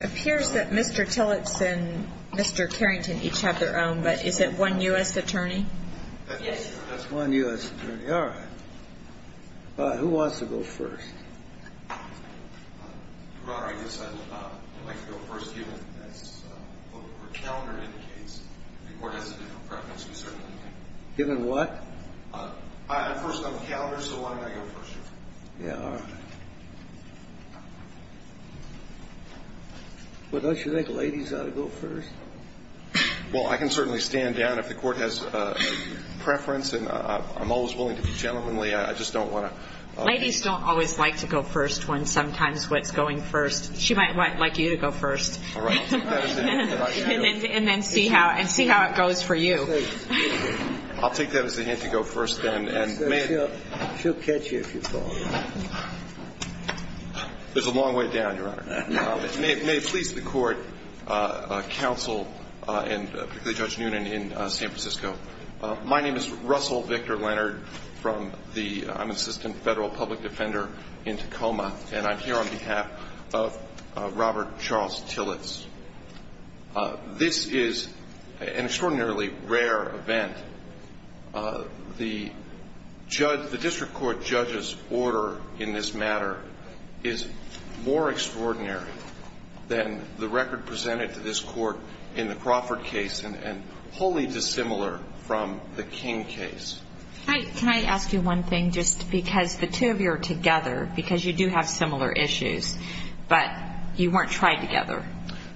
Appears that Mr. Tillotson and Mr. Carrington each have their own, but is it one U.S. attorney? Yes. That's one U.S. attorney. All right. Who wants to go first? Your Honor, I guess I'd like to go first given, as the calendar indicates, the Court has a different preference. Given what? First on the calendar, so why don't I go first? Well, don't you think ladies ought to go first? Well, I can certainly stand down if the Court has a preference, and I'm always willing to be gentlemanly. I just don't want to ---- Ladies don't always like to go first when sometimes what's going first. She might like you to go first. All right. And then see how it goes for you. I'll take that as a hint to go first then. She'll catch you if you fall. There's a long way down, Your Honor. May it please the Court, counsel, and particularly Judge Noonan in San Francisco, my name is Russell Victor Leonard from the unassisted federal public defender in Tacoma, and I'm here on behalf of Robert Charles Tillots. This is an extraordinarily rare event. The district court judge's order in this matter is more extraordinary than the record presented to this court in the Crawford case and wholly dissimilar from the King case. Can I ask you one thing, just because the two of you are together, because you do have similar issues, but you weren't tried together.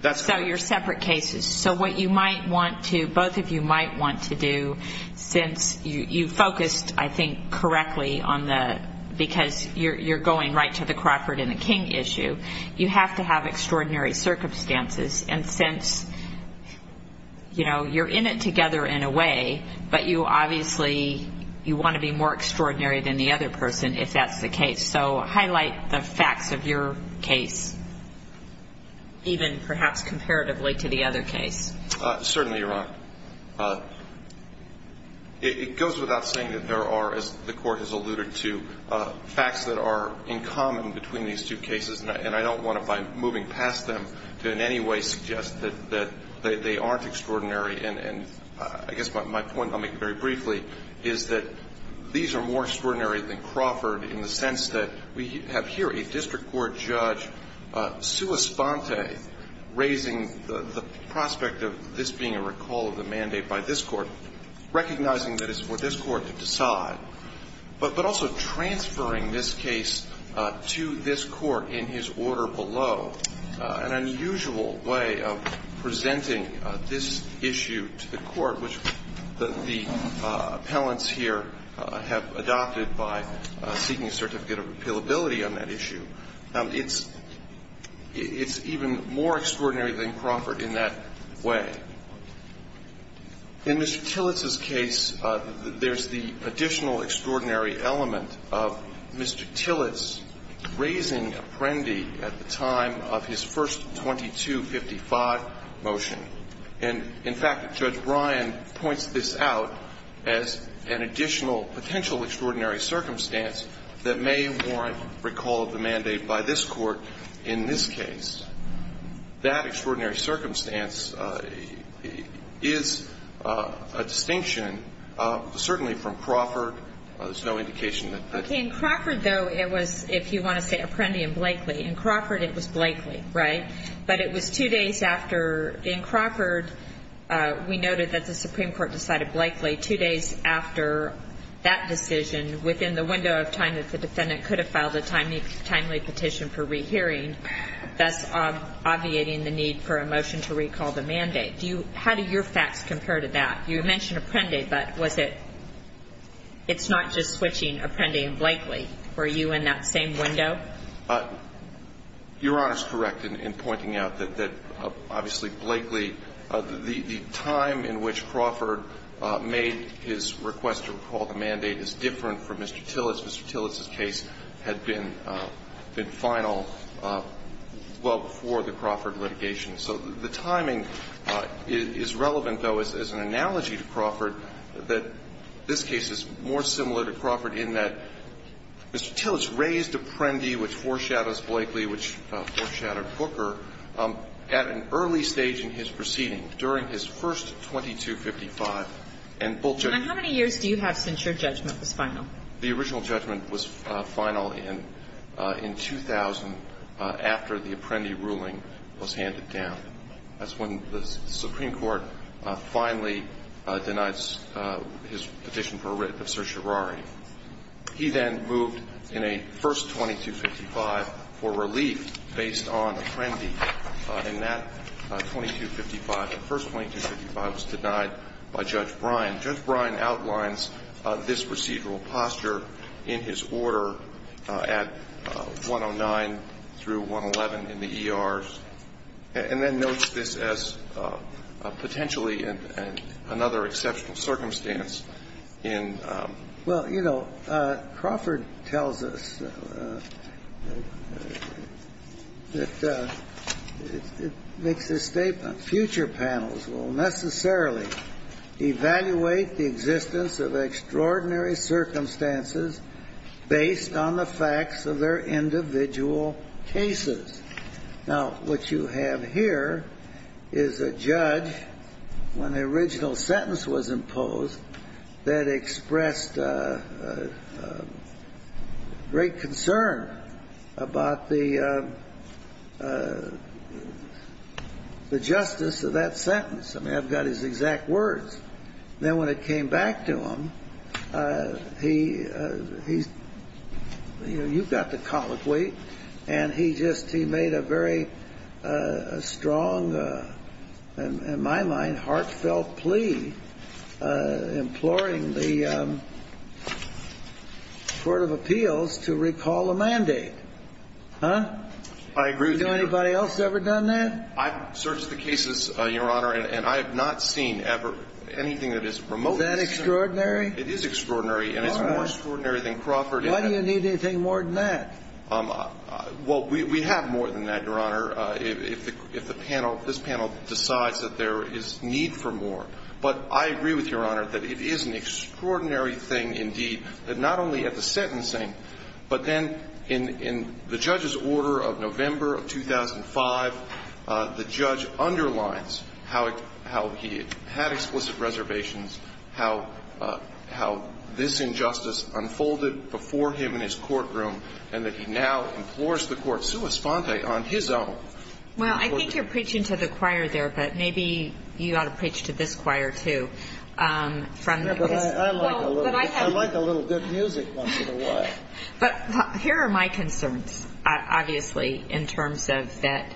That's right. So you're separate cases. So what you might want to, both of you might want to do, since you focused, I think, correctly on the, because you're going right to the Crawford and the King issue, you have to have extraordinary circumstances. And since, you know, you're in it together in a way, but you obviously, you want to be more extraordinary than the other person if that's the case. So highlight the facts of your case, even perhaps comparatively to the other case. Certainly, Your Honor. It goes without saying that there are, as the court has alluded to, facts that are in common between these two cases, and I don't want to by moving past them to in any way suggest that they aren't extraordinary. And I guess my point, I'll make it very briefly, is that these are more extraordinary than Crawford in the sense that we have here a district court judge sua sponte raising the prospect of this being a recall of the mandate by this court, recognizing that it's for this court to decide, but also transferring this case to this court in his order below. An unusual way of presenting this issue to the court, which the appellants here have adopted by seeking a certificate of appealability on that issue. It's even more extraordinary than Crawford in that way. In Mr. Tillett's case, there's the additional extraordinary element of Mr. Tillett's raising Apprendi at the time of his first 2255 motion. And in fact, Judge Ryan points this out as an additional potential extraordinary circumstance that may warrant recall of the mandate by this court in this case. That extraordinary circumstance is a distinction certainly from Crawford. There's no indication that that's true. In Crawford, though, it was, if you want to say Apprendi and Blakely, in Crawford it was Blakely, right? But it was two days after, in Crawford, we noted that the Supreme Court decided Blakely two days after that decision within the window of time that the defendant could have filed a timely petition for rehearing, thus obviating the need for a motion to recall the mandate. Do you – how do your facts compare to that? You mentioned Apprendi, but was it – it's not just switching Apprendi and Blakely. Were you in that same window? Your Honor is correct in pointing out that, obviously, Blakely, the time in which Crawford made his request to recall the mandate is different from Mr. Tillich. Mr. Tillich's case had been final well before the Crawford litigation. So the timing is relevant, though, as an analogy to Crawford that this case is more In the case of Apprendi, the defendant had made a request to Mr. Tillich to use 2255 for relief based on Apprendi. And that 2255, the first 2255 was denied by Judge Bryan. Judge Bryan outlines this procedural posture in his order at 109 through 111 in the case of Apprendi. And that 2255, the first 2255 was denied by Judge Bryan. And that makes the statement, future panels will necessarily evaluate the existence of extraordinary circumstances based on the facts of their individual cases. Now, what you have here is a judge, when the original sentence was imposed, that expressed great concern about the justice of that sentence. I mean, I've got his exact words. Then when it came back to him, he's – you know, you've got the colloquy. And he just – he made a very strong, in my mind, heartfelt plea, imploring the court of appeals to recall the mandate. Huh? I agree with you. Has anybody else ever done that? I've searched the cases, Your Honor, and I have not seen ever anything that is remotely similar. Is that extraordinary? It is extraordinary. All right. And it's more extraordinary than Crawford. Why do you need anything more than that? Well, we have more than that, Your Honor, if the panel – if this panel decides that there is need for more. But I agree with Your Honor that it is an extraordinary thing indeed that not only at the sentencing, but then in the judge's order of November of 2005, the judge underlines how he had explicit reservations, how this injustice unfolded before him in his courtroom, and that he now implores the court, sua sponte, on his own. Well, I think you're preaching to the choir there, but maybe you ought to preach to this choir, too. I like a little good music once in a while. But here are my concerns, obviously, in terms of that.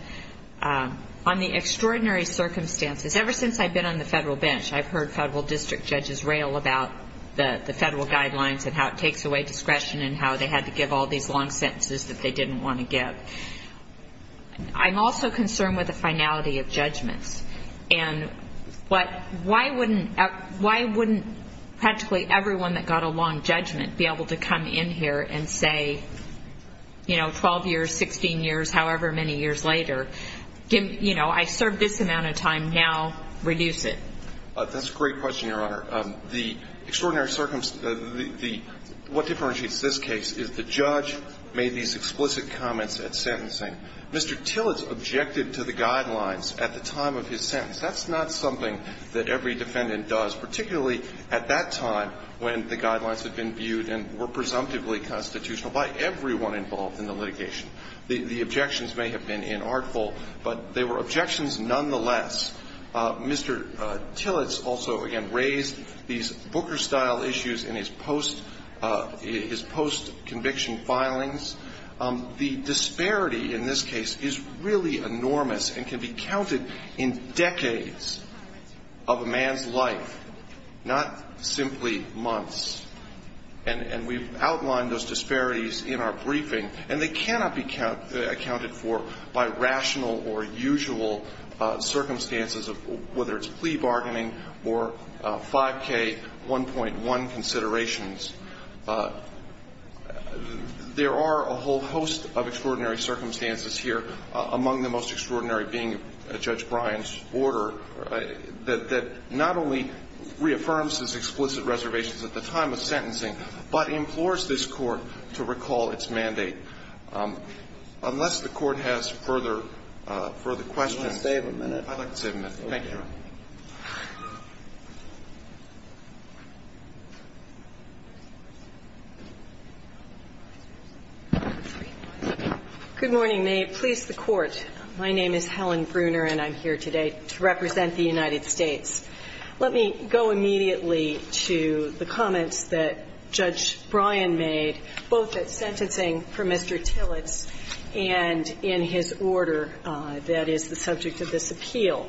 On the extraordinary circumstances, ever since I've been on the federal bench, I've heard federal district judges rail about the federal guidelines and how it takes away discretion and how they had to give all these long sentences that they didn't want to give. I'm also concerned with the finality of judgments. And why wouldn't practically everyone that got a long judgment be able to come in here and say, you know, 12 years, 16 years, however many years later, you know, I served this amount of time, now reduce it? That's a great question, Your Honor. What differentiates this case is the judge made these explicit comments at sentencing. Mr. Tillits objected to the guidelines at the time of his sentence. That's not something that every defendant does, particularly at that time when the guidelines had been viewed and were presumptively constitutional by everyone involved in the litigation. The objections may have been inartful, but they were objections nonetheless. Mr. Tillits also, again, raised these Booker-style issues in his post-conviction filings. The disparity in this case is really enormous and can be counted in decades of a man's life, not simply months. And we've outlined those disparities in our briefing, and they cannot be accounted for by rational or usual circumstances, whether it's plea bargaining or 5K, 1.1 considerations. There are a whole host of extraordinary circumstances here, among the most extraordinary being Judge Bryan's order that not only reaffirms his explicit reservations at the time of sentencing, but implores this Court to recall its mandate. Unless the Court has further questions. I'd like to save a minute. I'd like to save a minute. Thank you. Ms. Bruner. Good morning. May it please the Court, my name is Helen Bruner, and I'm here today to represent the United States. Let me go immediately to the comments that Judge Bryan made, both at sentencing for Mr. Tillots and in his order that is the subject of this appeal.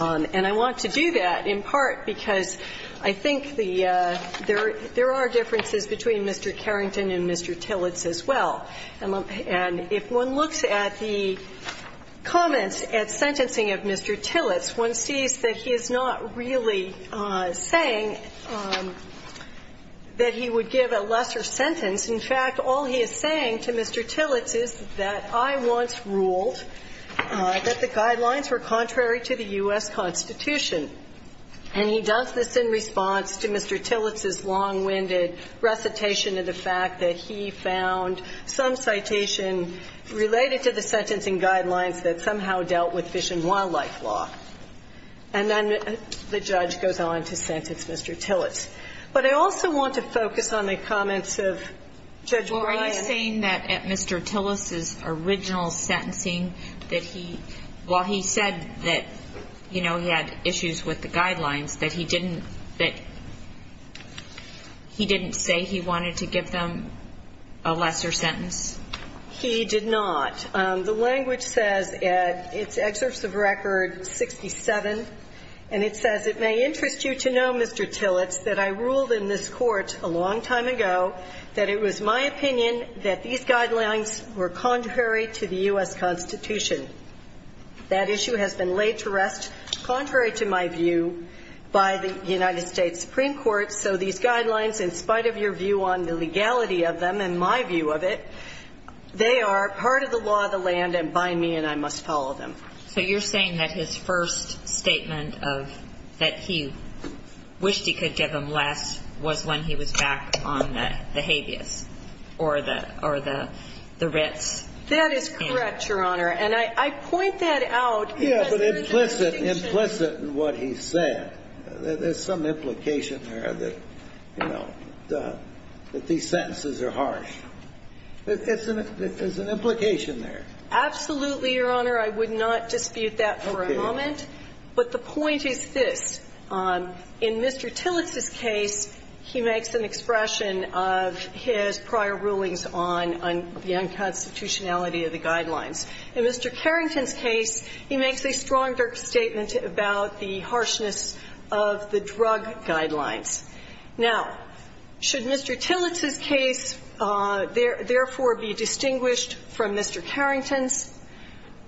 And I want to do that in part because I think there are differences between Mr. Carrington and Mr. Tillots as well. And if one looks at the comments at sentencing of Mr. Tillots, one sees that he is not really saying that he would give a lesser sentence. In fact, all he is saying to Mr. Tillots is that I once ruled that the guidelines were contrary to the U.S. Constitution. And he does this in response to Mr. Tillots's long-winded recitation of the fact that he found some citation related to the sentencing guidelines that somehow dealt with fish and wildlife law. And then the judge goes on to sentence Mr. Tillots. But I also want to focus on the comments of Judge Bryan. Well, are you saying that at Mr. Tillots's original sentencing that he – while he said that, you know, he had issues with the guidelines, that he didn't – that he didn't say he wanted to give them a lesser sentence? He did not. The language says at its excerpts of record 67, and it says, It may interest you to know, Mr. Tillots, that I ruled in this Court a long time ago that it was my opinion that these guidelines were contrary to the U.S. Constitution. That issue has been laid to rest contrary to my view by the United States Supreme Court, so these guidelines, in spite of your view on the legality of them and my view of it, they are part of the law of the land and by me and I must follow them. So you're saying that his first statement of – that he wished he could give them less was when he was back on the habeas or the Ritz? That is correct, Your Honor. And I point that out because there is a distinction. Yeah, but implicit in what he said. There's some implication there that, you know, that these sentences are harsh. There's an implication there. Absolutely, Your Honor. I would not dispute that for a moment. Okay. But the point is this. In Mr. Tillots' case, he makes an expression of his prior rulings on the unconstitutionality of the guidelines. In Mr. Carrington's case, he makes a stronger statement about the harshness of the drug guidelines. Now, should Mr. Tillots' case, therefore, be distinguished from Mr. Carrington's?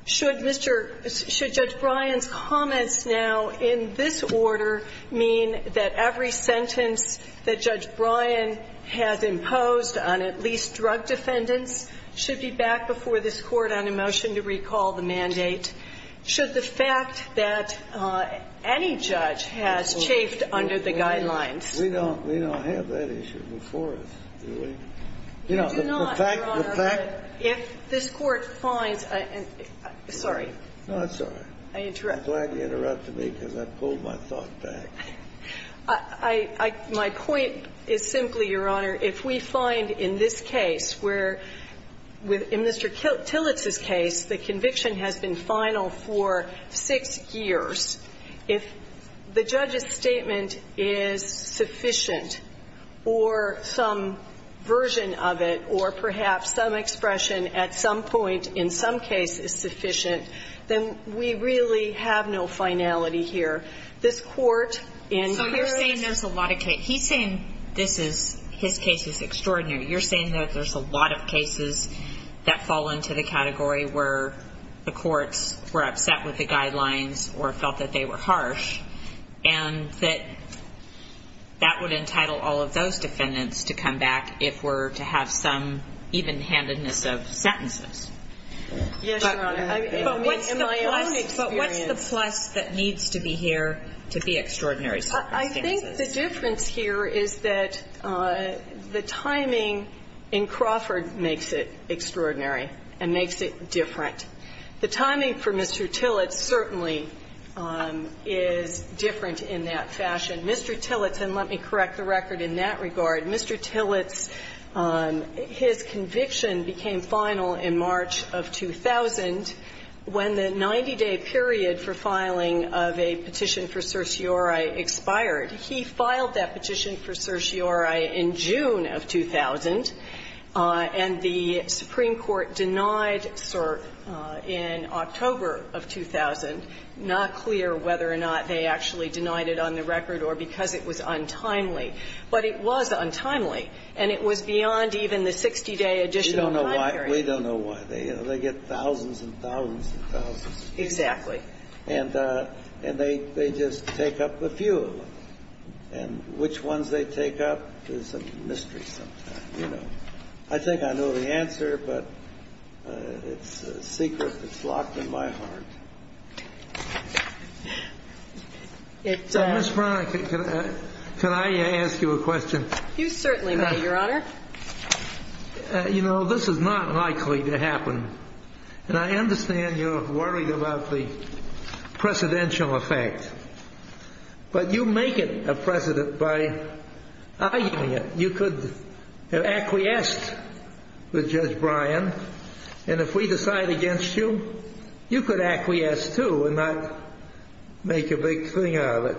Should Mr. – should Judge Bryan's comments now in this order mean that every sentence that Judge Bryan has imposed on at least drug defendants should be backed before this Court on a motion to recall the mandate? Should the fact that any judge has chafed under the guidelines – We don't have that issue before us, do we? You do not, Your Honor. If this Court finds – sorry. No, that's all right. I'm glad you interrupted me because I pulled my thought back. I – my point is simply, Your Honor, if we find in this case where – in Mr. Tillots' case, the conviction has been final for six years, if the judge's statement is sufficient or some version of it or perhaps some expression at some point in some case is sufficient, then we really have no finality here. This Court in – So you're saying there's a lot of – he's saying this is – his case is extraordinary. You're saying that there's a lot of cases that fall into the category where the courts were upset with the guidelines or felt that they were harsh and that that would entitle all of those defendants to come back if we're to have some even-handedness of sentences. Yes, Your Honor. I mean, in my own experience – But what's the plus that needs to be here to be extraordinary sentences? I think the difference here is that the timing in Crawford makes it extraordinary and makes it different. The timing for Mr. Tillots certainly is different in that fashion. Mr. Tillots, and let me correct the record in that regard, Mr. Tillots, his conviction became final in March of 2000 when the 90-day period for filing of a petition for certiorari expired. He filed that petition for certiorari in June of 2000, and the Supreme Court denied cert in October of 2000. Not clear whether or not they actually denied it on the record or because it was untimely. But it was untimely, and it was beyond even the 60-day additional time period. We don't know why. We don't know why. They get thousands and thousands and thousands. Exactly. And they just take up a few of them. And which ones they take up is a mystery sometimes, you know. I think I know the answer, but it's a secret that's locked in my heart. Ms. Brown, can I ask you a question? You certainly may, Your Honor. You know, this is not likely to happen. And I understand you're worried about the precedential effect. But you make it a precedent by arguing it. You could have acquiesced with Judge Bryan, and if we decide against you, you could acquiesce too and not make a big thing out of it.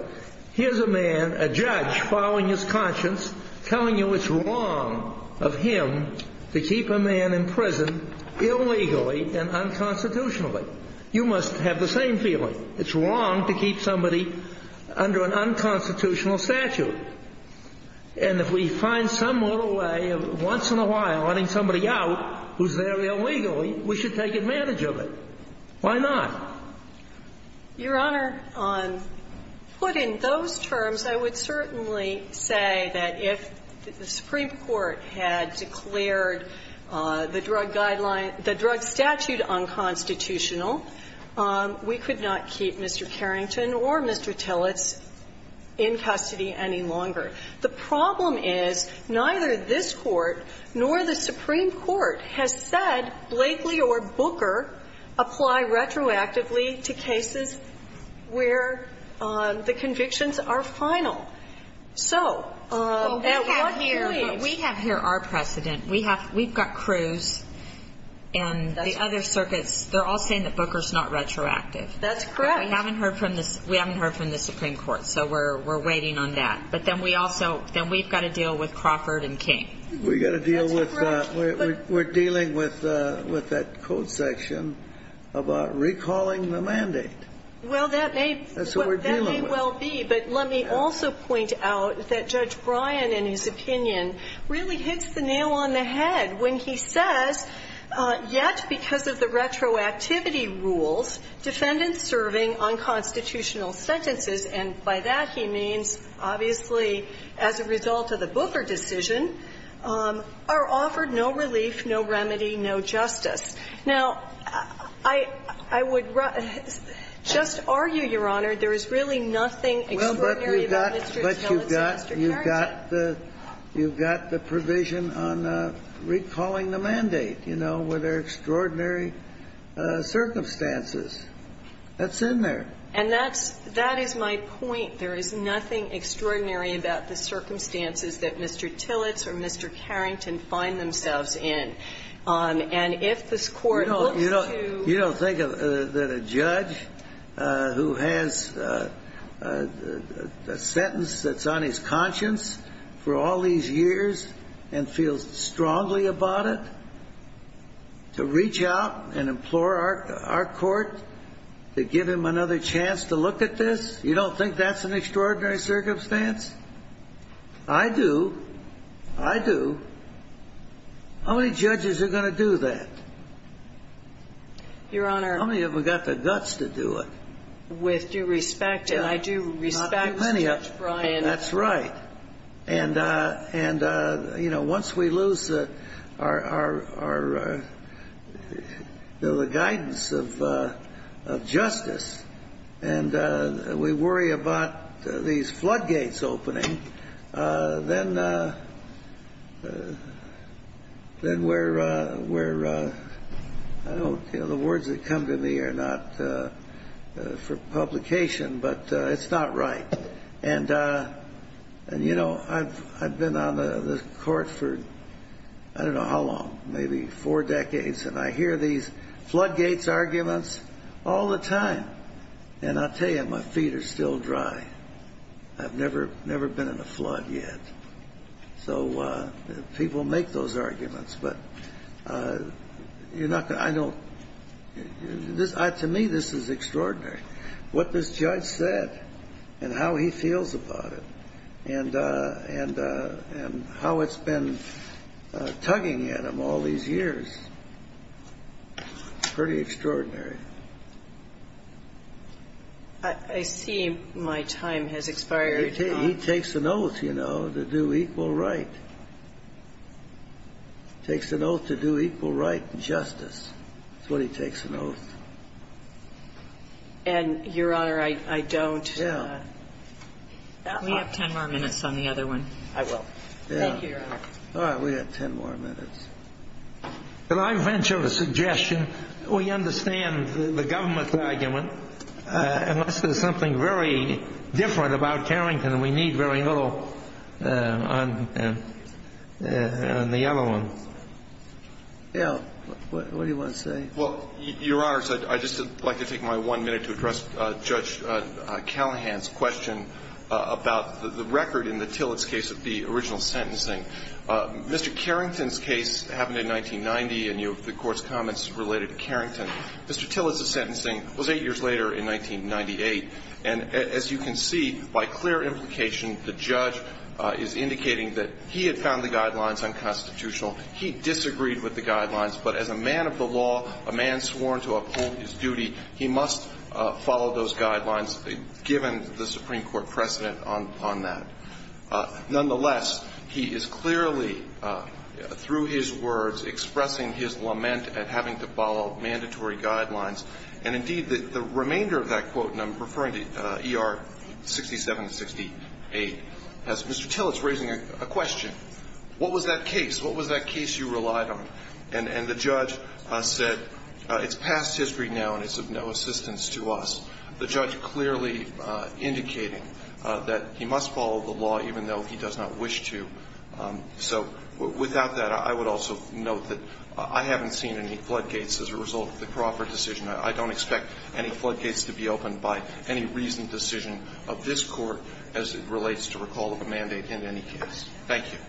Here's a man, a judge, following his conscience, telling you it's wrong of him to keep a man in prison illegally and unconstitutionally. You must have the same feeling. It's wrong to keep somebody under an unconstitutional statute. And if we find some little way of once in a while letting somebody out who's there illegally, we should take advantage of it. Why not? Your Honor, on putting those terms, I would certainly say that if the Supreme Court declared the drug guideline, the drug statute unconstitutional, we could not keep Mr. Carrington or Mr. Tillits in custody any longer. The problem is neither this Court nor the Supreme Court has said Blakely or Booker apply retroactively to cases where the convictions are final. So at what point do we have to do that? We've got Cruz and the other circuits. They're all saying that Booker's not retroactive. That's correct. But we haven't heard from the Supreme Court. So we're waiting on that. But then we've got to deal with Crawford and King. We've got to deal with that. We're dealing with that code section about recalling the mandate. Well, that may well be. But let me also point out that Judge Bryan, in his opinion, really hits the nail on the head when he says, yet because of the retroactivity rules, defendants serving unconstitutional sentences, and by that he means, obviously, as a result of the Booker decision, are offered no relief, no remedy, no justice. Now, I would just argue, Your Honor, there is really nothing extraordinary about Mr. Tillits and Mr. Carrington. But you've got the provision on recalling the mandate, you know, where there are extraordinary circumstances. That's in there. And that's my point. There is nothing extraordinary about the circumstances that Mr. Tillits or Mr. Carrington find themselves in. And if this Court looks to ---- You don't think that a judge who has a sentence that's on his conscience for all these years and feels strongly about it, to reach out and implore our court to give him another chance to look at this, you don't think that's an extraordinary circumstance? I do. I do. How many judges are going to do that? Your Honor ---- How many of them have got the guts to do it? With due respect, and I do respect Judge Bryan ---- Not many of them. That's right. And, you know, once we lose our ---- the guidance of justice and we worry about these floodgates opening, then we're ---- the words that come to me are not for publication, but it's not right. And, you know, I've been on the Court for I don't know how long, maybe four decades, and I hear these floodgates arguments all the time. And I'll tell you, my feet are still dry. I've never been in a flood yet. So people make those arguments, but you're not going to ---- I don't ---- to me, this is extraordinary. What this judge said and how he feels about it and how it's been tugging at him all these years, pretty extraordinary. I see my time has expired. He takes an oath, you know, to do equal right. Takes an oath to do equal right and justice. That's what he takes an oath. And, Your Honor, I don't ---- Yeah. We have ten more minutes on the other one. I will. Thank you, Your Honor. All right. We have ten more minutes. Can I venture a suggestion? We understand the government's argument. Unless there's something very different about Carrington, we need very little on the other one. Yeah. What do you want to say? Well, Your Honor, I'd just like to take my one minute to address Judge Callahan's question about the record in the Tillett's case of the original sentencing. Mr. Carrington's case happened in 1990, and you have the Court's comments related to Carrington. Mr. Tillett's sentencing was eight years later in 1998. And as you can see, by clear implication, the judge is indicating that he had found the guidelines unconstitutional. He disagreed with the guidelines. But as a man of the law, a man sworn to uphold his duty, he must follow those guidelines given the Supreme Court precedent on that. Nonetheless, he is clearly, through his words, expressing his lament at having to follow mandatory guidelines. And, indeed, the remainder of that quote, and I'm referring to ER 67 and 68, has Mr. Tillett's raising a question. What was that case? What was that case you relied on? And the judge said, it's past history now, and it's of no assistance to us. The judge clearly indicating that he must follow the law even though he does not wish to. So, without that, I would also note that I haven't seen any floodgates as a result of the Crawford decision. I don't expect any floodgates to be opened by any reasoned decision of this Court as it relates to recall of a mandate in any case. Thank you.